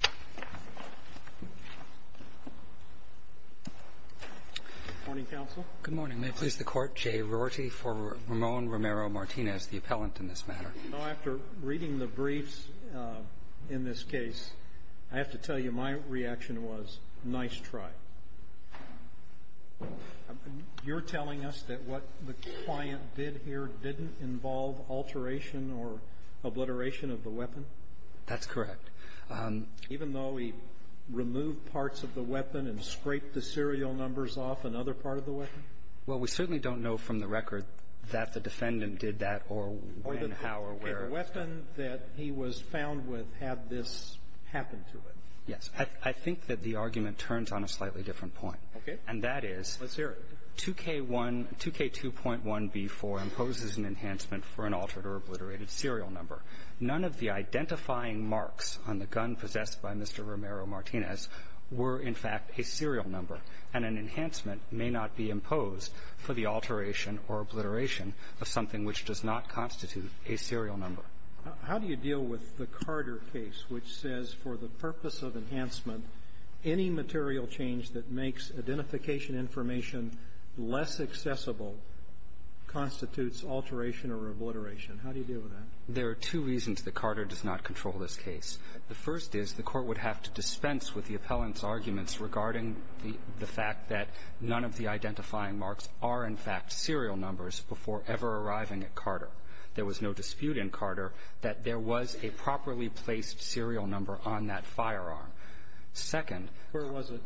After reading the briefs in this case, I have to tell you my reaction was, nice try. You're telling us that what the client did here didn't involve alteration or obliteration of the serial number, even though he removed parts of the weapon and scraped the serial numbers off another part of the weapon? Well, we certainly don't know from the record that the defendant did that or when, how, or where. The weapon that he was found with had this happen to it. Yes. I think that the argument turns on a slightly different point. Okay. And that is — Let's hear it. 2K1 — 2K2.1b4 imposes an enhancement for an altered or obliterated serial number. None of the identifying marks on the gun possessed by Mr. Romero-Martinez were, in fact, a serial number. And an enhancement may not be imposed for the alteration or obliteration of something which does not constitute a serial number. How do you deal with the Carter case, which says, for the purpose of enhancement, any material change that makes identification information less accessible constitutes alteration or obliteration? How do you deal with that? There are two reasons that Carter does not control this case. The first is the Court would have to dispense with the appellant's arguments regarding the fact that none of the identifying marks are, in fact, serial numbers before ever arriving at Carter. There was no dispute in Carter that there was a properly placed serial number on that firearm. Second — Where was it?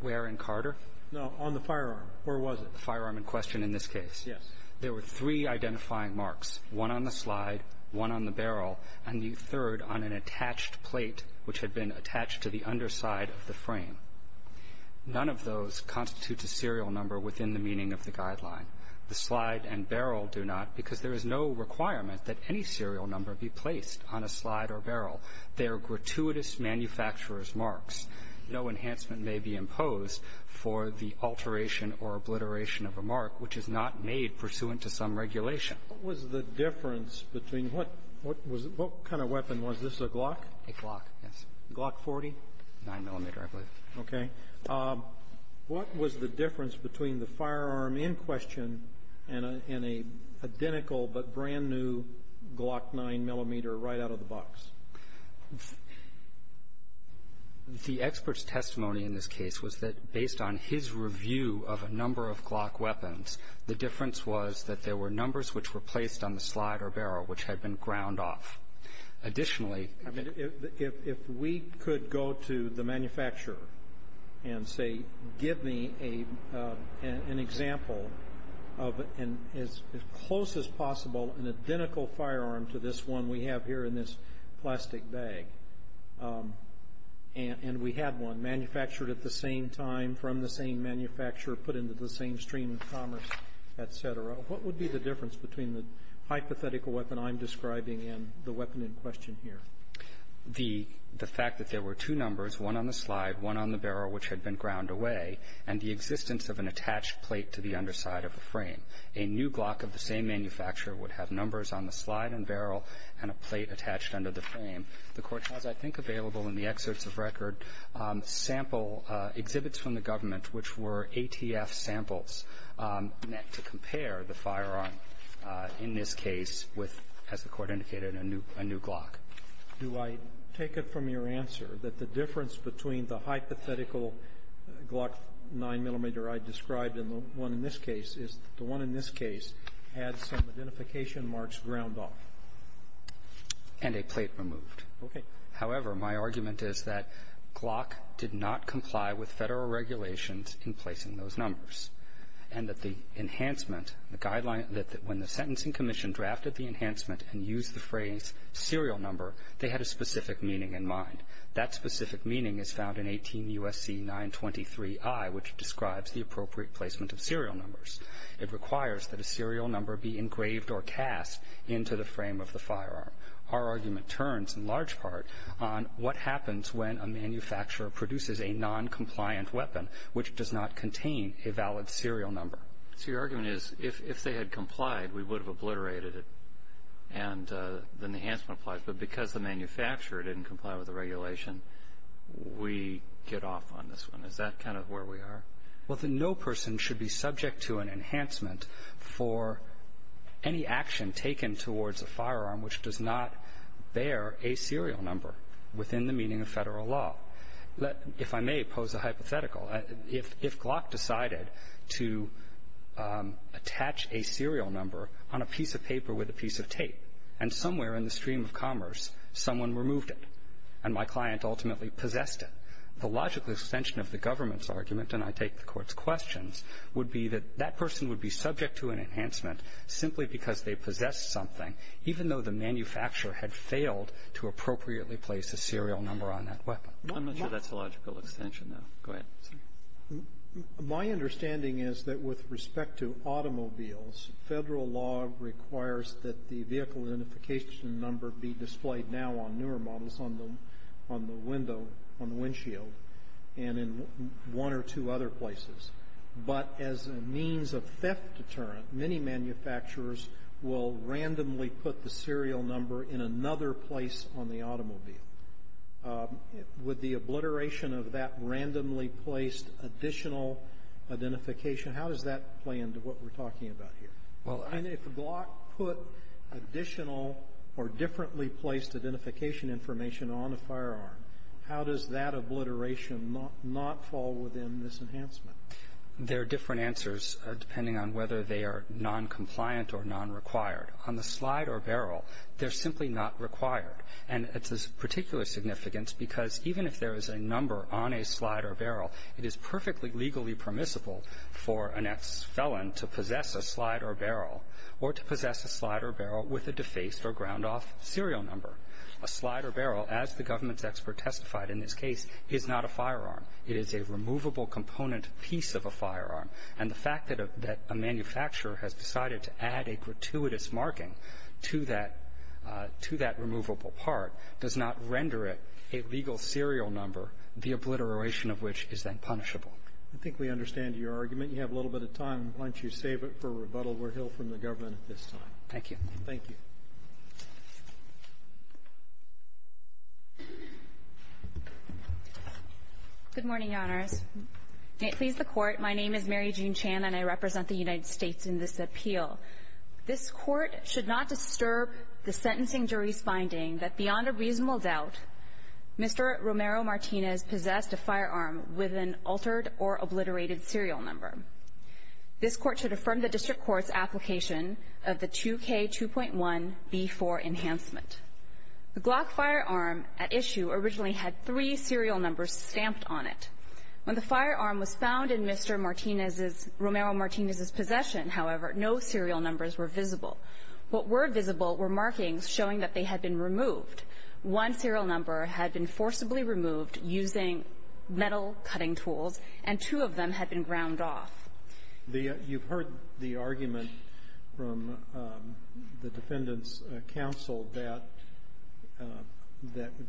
Where in Carter? No. On the firearm. Where was it? The firearm in question in this case. Yes. There were three identifying marks — one on the slide, one on the barrel, and the third on an attached plate, which had been attached to the underside of the frame. None of those constitute a serial number within the meaning of the guideline. The slide and barrel do not, because there is no requirement that any serial number be placed on a slide or barrel. They are gratuitous manufacturer's marks. No enhancement may be imposed for the alteration or obliteration of a mark which is not made pursuant to some regulation. What was the difference between what was — what kind of weapon was this, a Glock? A Glock, yes. Glock 40? 9-millimeter, I believe. Okay. What was the difference between the firearm in question and a — and an identical but brand-new Glock 9-millimeter right out of the box? The expert's testimony in this case was that, based on his review of a number of Glock weapons, the difference was that there were numbers which were placed on the slide or barrel which had been ground off. Additionally — I mean, if we could go to the manufacturer and say, give me an example of an — as close as possible, an identical firearm to this one we have here in this plastic bag, and we had one manufactured at the same time from the same manufacturer, put into the same stream of commerce, et cetera, what would be the difference between the hypothetical weapon I'm describing and the weapon in question here? The — the fact that there were two numbers, one on the slide, one on the barrel, which had been ground away, and the existence of an attached plate to the underside of the frame. A new Glock of the same manufacturer would have numbers on the slide and barrel and a plate attached under the frame. The Court has, I think, available in the excerpts of record sample — exhibits from the government which were ATF samples to compare the firearm in this case with, as the Court indicated, a new — a new Glock. Do I take it from your answer that the difference between the hypothetical Glock 9-millimeter I described and the one in this case is the one in this case had some identification marks ground off? And a plate removed. Okay. However, my argument is that Glock did not comply with Federal regulations in placing those numbers, and that the enhancement, the guideline that — that when the Sentencing Commission drafted the enhancement and used the phrase serial number, they had a specific meaning in mind. That specific meaning is found in 18 U.S.C. 923I, which describes the appropriate placement of serial numbers. It requires that a serial number be engraved or cast into the frame of the firearm. Our argument turns, in large part, on what happens when a manufacturer produces a noncompliant weapon which does not contain a valid serial number. So your argument is, if they had complied, we would have obliterated it, and then the enhancement applies. But because the manufacturer didn't comply with the regulation, we get off on this one. Is that kind of where we are? Well, then no person should be subject to an enhancement for any action taken towards a firearm which does not bear a serial number within the meaning of Federal law. If I may pose a hypothetical, if Glock decided to attach a serial number on a piece of paper with a piece of tape, and somewhere in the stream of commerce someone removed it, and my client ultimately possessed it, the logical extension of the government's argument, and I take the Court's questions, would be that that person would be subject to an enhancement simply because they possessed something, even though the manufacturer had failed to appropriately place a serial number on that weapon. I'm not sure that's a logical extension, though. Go ahead. My understanding is that with respect to automobiles, Federal law requires that the vehicle identification number be displayed now on newer models on the window, on the windshield, and in one or two other places. But as a means of theft deterrent, many manufacturers will randomly put the serial number in another place on the automobile. Would the obliteration of that randomly placed additional identification, how does that play into what we're talking about here? Well, I mean, if Glock put additional or differently placed identification information on a firearm, how does that obliteration not fall within this enhancement? There are different answers depending on whether they are non-compliant or non-required. On the slide or barrel, they're simply not required, and it's of particular significance because even if there is a number on a slide or barrel, it is perfectly legally permissible for an ex-felon to possess a slide or barrel, or to possess a slide or barrel with a defaced or ground-off serial number. A slide or barrel, as the government's expert testified in this case, is not a firearm. It is a removable component piece of a firearm. And the fact that a manufacturer has decided to add a gratuitous marking to that removable part does not render it a legal serial number, the obliteration of which is then punishable. I think we understand your argument. You have a little bit of time. Why don't you save it for rebuttal where he'll from the government at this time. Thank you. Thank you. Good morning, Your Honors. May it please the Court, my name is Mary Jean Chan, and I represent the United States in this appeal. This Court should not disturb the sentencing jury's finding that beyond a reasonable doubt, Mr. Romero-Martinez possessed a firearm with an altered or obliterated serial number. This Court should affirm the district court's application of the 2K2.1B4 enhancement. The Glock firearm at issue originally had three serial numbers stamped on it. When the firearm was found in Mr. Martinez's, Romero-Martinez's possession, however, no serial numbers were visible. What were visible were markings showing that they had been removed. One serial number had been forcibly removed using metal cutting tools, and two of them had been ground off. You've heard the argument from the Defendant's Counsel that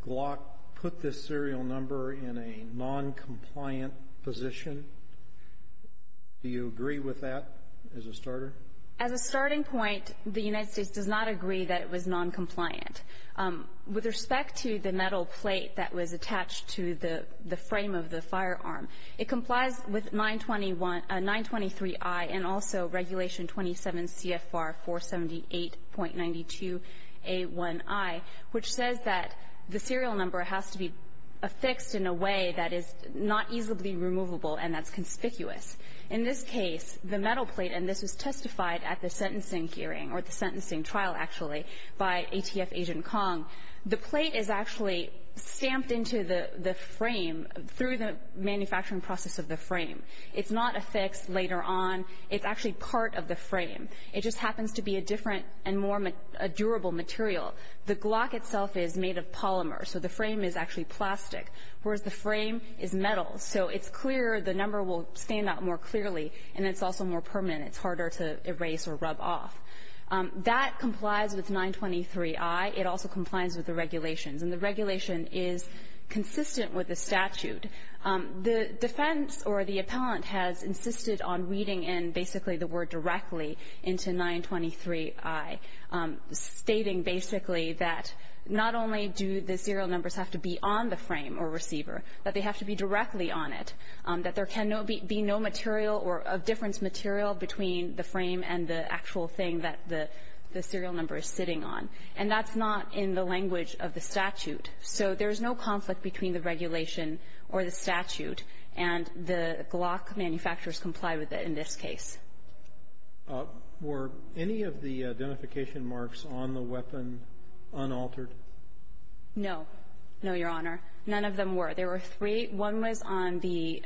Glock put this serial number in a noncompliant position. Do you agree with that as a starter? As a starting point, the United States does not agree that it was noncompliant. With respect to the metal plate that was attached to the frame of the firearm, it complies with 923i and also Regulation 27 CFR 478.92a1i, which says that the serial number has to be affixed in a way that is not easily removable and that's conspicuous. In this case, the metal plate, and this was testified at the sentencing hearing or the sentencing trial, actually, by ATF Agent Kong. The plate is actually stamped into the frame through the manufacturing process of the frame. It's not affixed later on. It's actually part of the frame. It just happens to be a different and more durable material. The Glock itself is made of polymer, so the frame is actually plastic, whereas the frame is metal. So it's clear. The number will stand out more clearly, and it's also more permanent. It's harder to erase or rub off. That complies with 923i. It also complies with the regulations, and the regulation is consistent with the statute. The defense or the appellant has insisted on reading in basically the word directly into 923i, stating basically that not only do the serial numbers have to be on the frame or receiver, but they have to be directly on it, that there can be no material or of difference material between the frame and the actual thing that the serial number is sitting on. And that's not in the language of the statute. So there's no conflict between the regulation or the statute, and the Glock manufacturers comply with it in this case. Were any of the identification marks on the weapon unaltered? No. No, Your Honor. None of them were. There were three. One was on the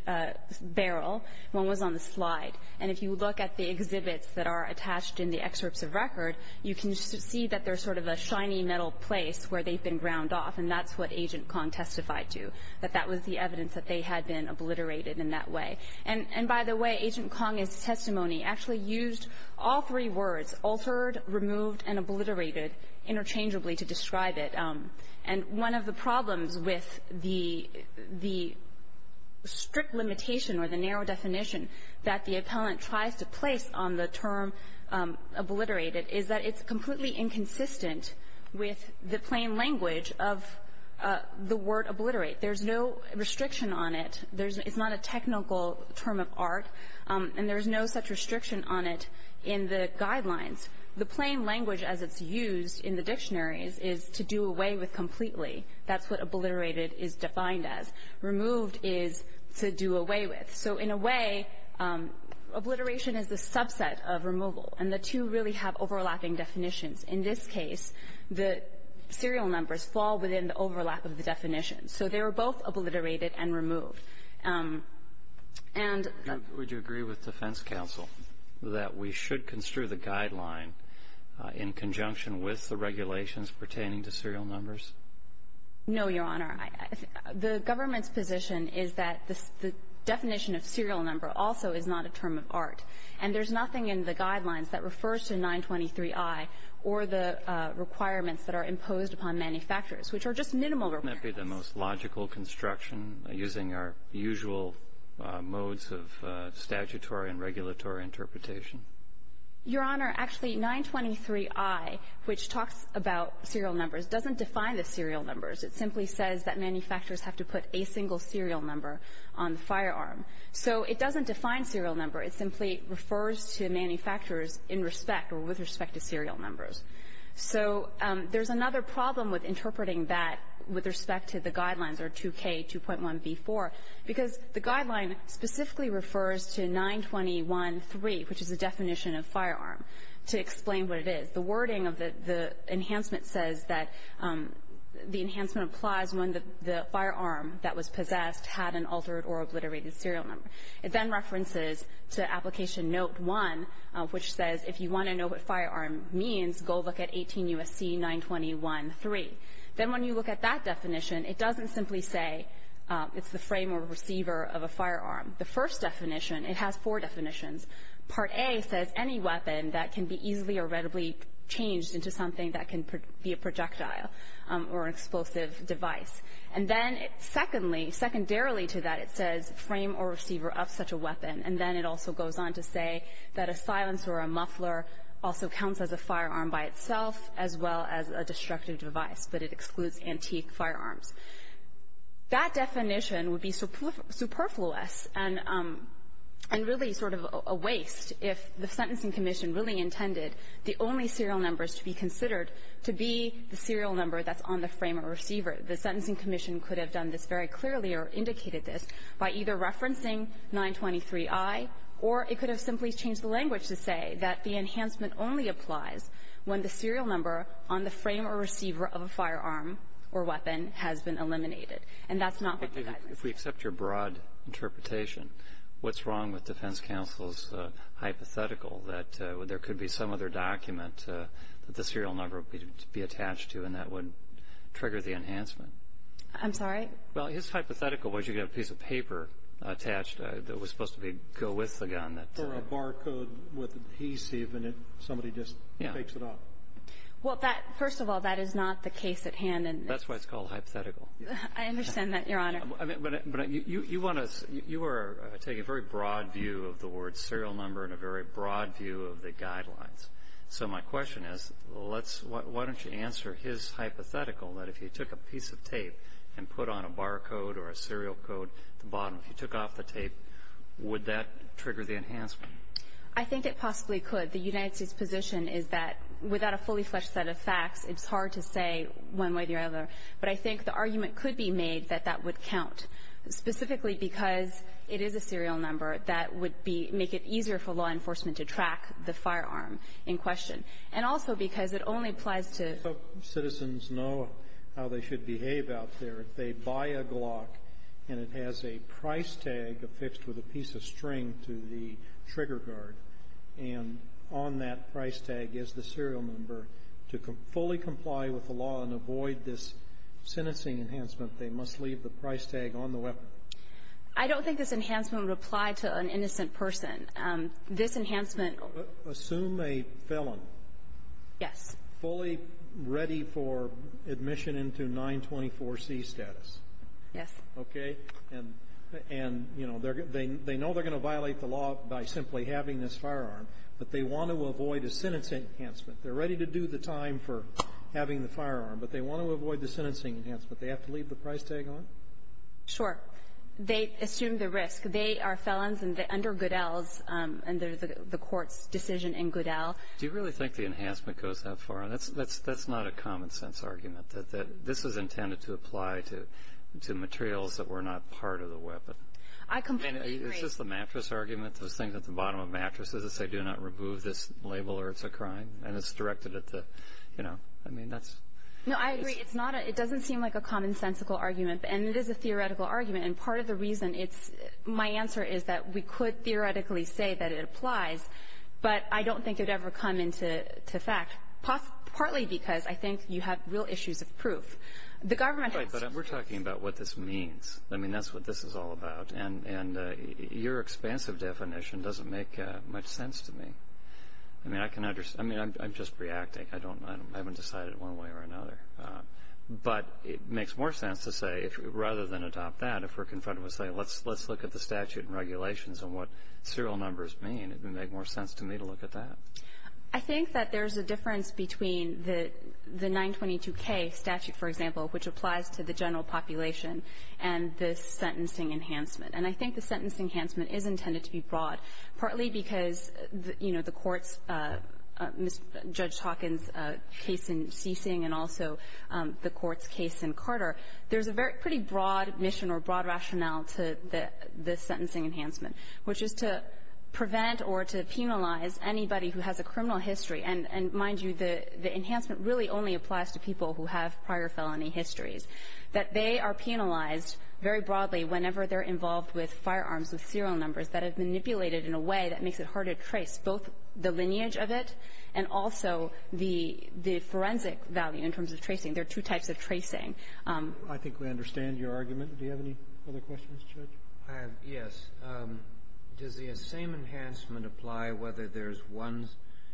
barrel. One was on the slide. And if you look at the exhibits that are attached in the excerpts of record, you can see that there's sort of a shiny metal place where they've been ground off, and that's what Agent Kong testified to, that that was the evidence that they had been obliterated in that way. And, by the way, Agent Kong's testimony actually used all three words, altered, removed, and obliterated interchangeably to describe it. And one of the problems with the strict limitation or the narrow definition that the appellant tries to place on the term obliterated is that it's completely inconsistent with the plain language of the word obliterate. There's no restriction on it. There's not a technical term of art, and there's no such restriction on it in the guidelines. The plain language as it's used in the dictionaries is to do away with completely. That's what obliterated is defined as. Removed is to do away with. So in a way, obliteration is the subset of removal, and the two really have overlapping definitions. In this case, the serial numbers fall within the overlap of the definitions. So they were both obliterated and removed. And the ---- And would you agree with defense counsel that we should construe the guideline in conjunction with the regulations pertaining to serial numbers? No, Your Honor. The government's position is that the definition of serial number also is not a term of art, and there's nothing in the guidelines that refers to 923i or the requirements that are imposed upon manufacturers, which are just minimal requirements. Wouldn't that be the most logical construction, using our usual modes of statutory and regulatory interpretation? Your Honor, actually, 923i, which talks about serial numbers, doesn't define the serial numbers. It simply says that manufacturers have to put a single serial number on the firearm. So it doesn't define serial number. It simply refers to manufacturers in respect or with respect to serial numbers. So there's another problem with interpreting that with respect to the guidelines or 2K2.1b4, because the guideline specifically refers to 921.3, which is the definition of firearm, to explain what it is. The wording of the enhancement says that the enhancement applies when the firearm that was possessed had an altered or obliterated serial number. It then references to Application Note 1, which says if you want to know what firearm means, go look at 18 U.S.C. 921.3. Then when you look at that definition, it doesn't simply say it's the frame or receiver of a firearm. The first definition, it has four definitions. Part A says any weapon that can be easily or readily changed into something that can be a projectile or an explosive device. And then secondly, secondarily to that, it says frame or receiver of such a weapon. And then it also goes on to say that a silencer or a muffler also counts as a firearm by itself as well as a destructive device, but it excludes antique firearms. That definition would be superfluous and really sort of a waste if the Sentencing Commission really intended the only serial numbers to be considered to be the serial number that's on the frame or receiver. The Sentencing Commission could have done this very clearly or indicated this by either referencing 923i, or it could have simply changed the language to say that the enhancement only applies when the serial number on the frame or receiver of a firearm or weapon has been eliminated. And that's not what the guidance says. If we accept your broad interpretation, what's wrong with defense counsel's hypothetical that there could be some other document that the serial number would be attached to and that would trigger the enhancement? I'm sorry? Well, his hypothetical was you could have a piece of paper attached that was supposed to be go with the gun. Or a barcode with adhesive and somebody just takes it off. Well, first of all, that is not the case at hand. That's why it's called hypothetical. I understand that, Your Honor. But you want to you were taking a very broad view of the word serial number and a very broad view of the guidelines. So my question is let's why don't you answer his hypothetical that if you took a piece of tape and put on a barcode or a serial code at the bottom, if you took off the tape, would that trigger the enhancement? I think it possibly could. The United States position is that without a fully-fledged set of facts, it's hard to say one way or the other. But I think the argument could be made that that would count, specifically because it is a serial number that would be make it easier for law enforcement to track the firearm in question. And also because it only applies to So citizens know how they should behave out there. If they buy a Glock and it has a price tag affixed with a piece of string to the trigger guard and on that price tag is the serial number, to fully comply with the law and avoid this sentencing enhancement, they must leave the price tag on the weapon. I don't think this enhancement would apply to an innocent person. This enhancement assume a felon. Yes. Fully ready for admission into 924C status? Yes. Okay. And, you know, they know they're going to violate the law by simply having this firearm, but they want to avoid a sentencing enhancement. They're ready to do the time for having the firearm, but they want to avoid the sentencing enhancement. They have to leave the price tag on? Sure. They assume the risk. They are felons under Goodell's, under the Court's decision in Goodell. Do you really think the enhancement goes that far? That's not a common sense argument, that this is intended to apply to materials that were not part of the weapon. I completely agree. I mean, is this the mattress argument, those things at the bottom of mattresses that say do not remove this label or it's a crime, and it's directed at the, you know, I mean, that's. No, I agree. It's not a, it doesn't seem like a commonsensical argument, and it is a theoretical argument, and part of the reason it's, my answer is that we could theoretically say that it applies, but I don't think it would ever come into effect, partly because I think you have real issues of proof. The government has. Right, but we're talking about what this means. I mean, that's what this is all about, and your expansive definition doesn't make much sense to me. I mean, I can understand. I mean, I'm just reacting. I don't, I haven't decided one way or another. But it makes more sense to say, rather than adopt that, if we're confronted with saying let's look at the statute and regulations and what serial numbers mean, it would make more sense to me to look at that. I think that there's a difference between the 922K statute, for example, which applies to the general population, and the sentencing enhancement. And I think the sentencing enhancement is intended to be broad, partly because, you know, the Court's, Judge Hawkins' case in Seesing and also the Court's case in Carter, there's a very pretty broad mission or broad rationale to the sentencing enhancement, which is to prevent or to penalize anybody who has a criminal history. And mind you, the enhancement really only applies to people who have prior felony histories, that they are penalized very broadly whenever they're involved with firearms, with serial numbers, that have manipulated in a way that makes it hard to trace both the lineage of it and also the forensic value in terms of tracing. There are two types of tracing. Roberts. I think we understand your argument. Do you have any other questions, Judge? I have. Yes. Does the same enhancement apply whether there's one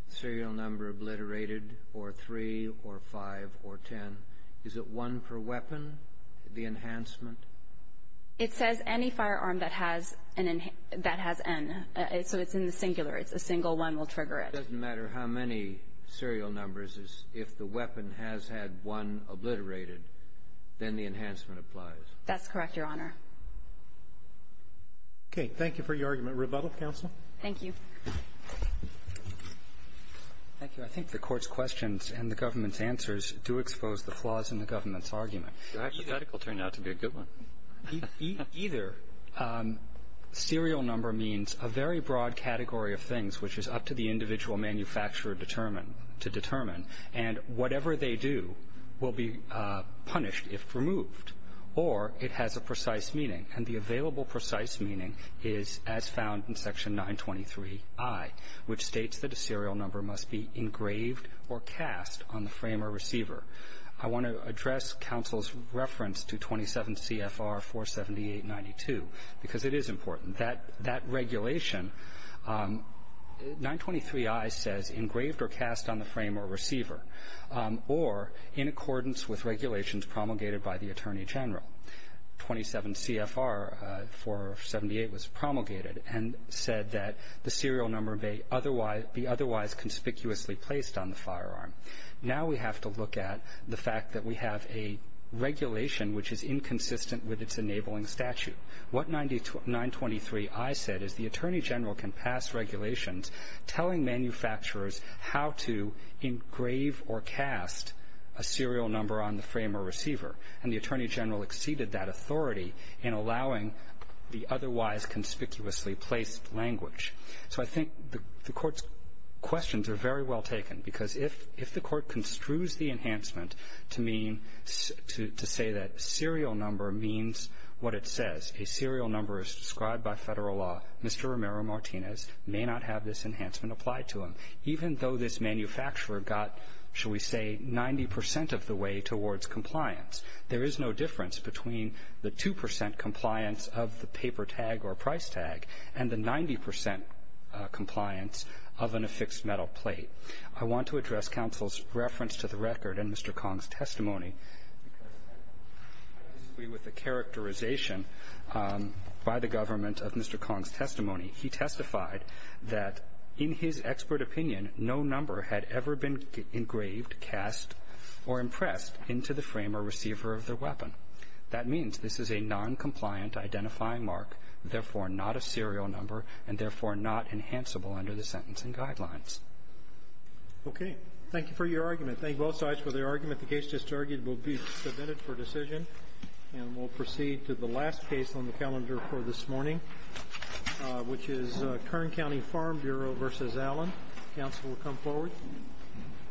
serial number obliterated or three or five or ten? Is it one per weapon, the enhancement? It says any firearm that has an enhancement, that has N. So it's in the singular. It's a single one will trigger it. It doesn't matter how many serial numbers. If the weapon has had one obliterated, then the enhancement applies. That's correct, Your Honor. Okay. Thank you for your argument. Rebuttal, counsel? Thank you. Thank you. I think the Court's questions and the government's answers do expose the flaws in the government's argument. Your hypothetical turned out to be a good one. Either serial number means a very broad category of things, which is up to the individual manufacturer to determine, and whatever they do will be punished if removed. Or it has a precise meaning, and the available precise meaning is as found in Section 923i, which states that a serial number must be engraved or cast on the frame or receiver. I want to address counsel's reference to 27 CFR 47892, because it is important. That regulation, 923i says engraved or cast on the frame or receiver, or in accordance with regulations promulgated by the Attorney General. 27 CFR 478 was promulgated and said that the serial number may otherwise be otherwise conspicuously placed on the firearm. Now we have to look at the fact that we have a regulation which is inconsistent with its enabling statute. What 923i said is the Attorney General can pass regulations telling manufacturers how to engrave or cast a serial number on the frame or receiver, and the Attorney General exceeded that authority in allowing the otherwise conspicuously placed language. So I think the Court's questions are very well taken, because if the Court construes the enhancement to say that serial number means what it says, a serial number as described by Federal law, Mr. Romero-Martinez may not have this enhancement applied to him, even though this manufacturer got, shall we say, 90 percent of the way towards compliance. There is no difference between the 2 percent compliance of the paper tag or price tag and the 90 percent compliance of an affixed metal plate. I want to address counsel's reference to the record and Mr. Kong's testimony, because I disagree with the characterization by the government of Mr. Kong's testimony. He testified that, in his expert opinion, no number had ever been engraved, cast, or impressed into the frame or receiver of the weapon. That means this is a noncompliant identifying mark, therefore not a serial number, and therefore not enhanceable under the sentencing guidelines. Okay. Thank you for your argument. Thank both sides for their argument. The case just argued will be submitted for decision, and we'll proceed to the last case on the calendar for this morning, which is Kern County Farm Bureau v. Allen. Counsel will come forward.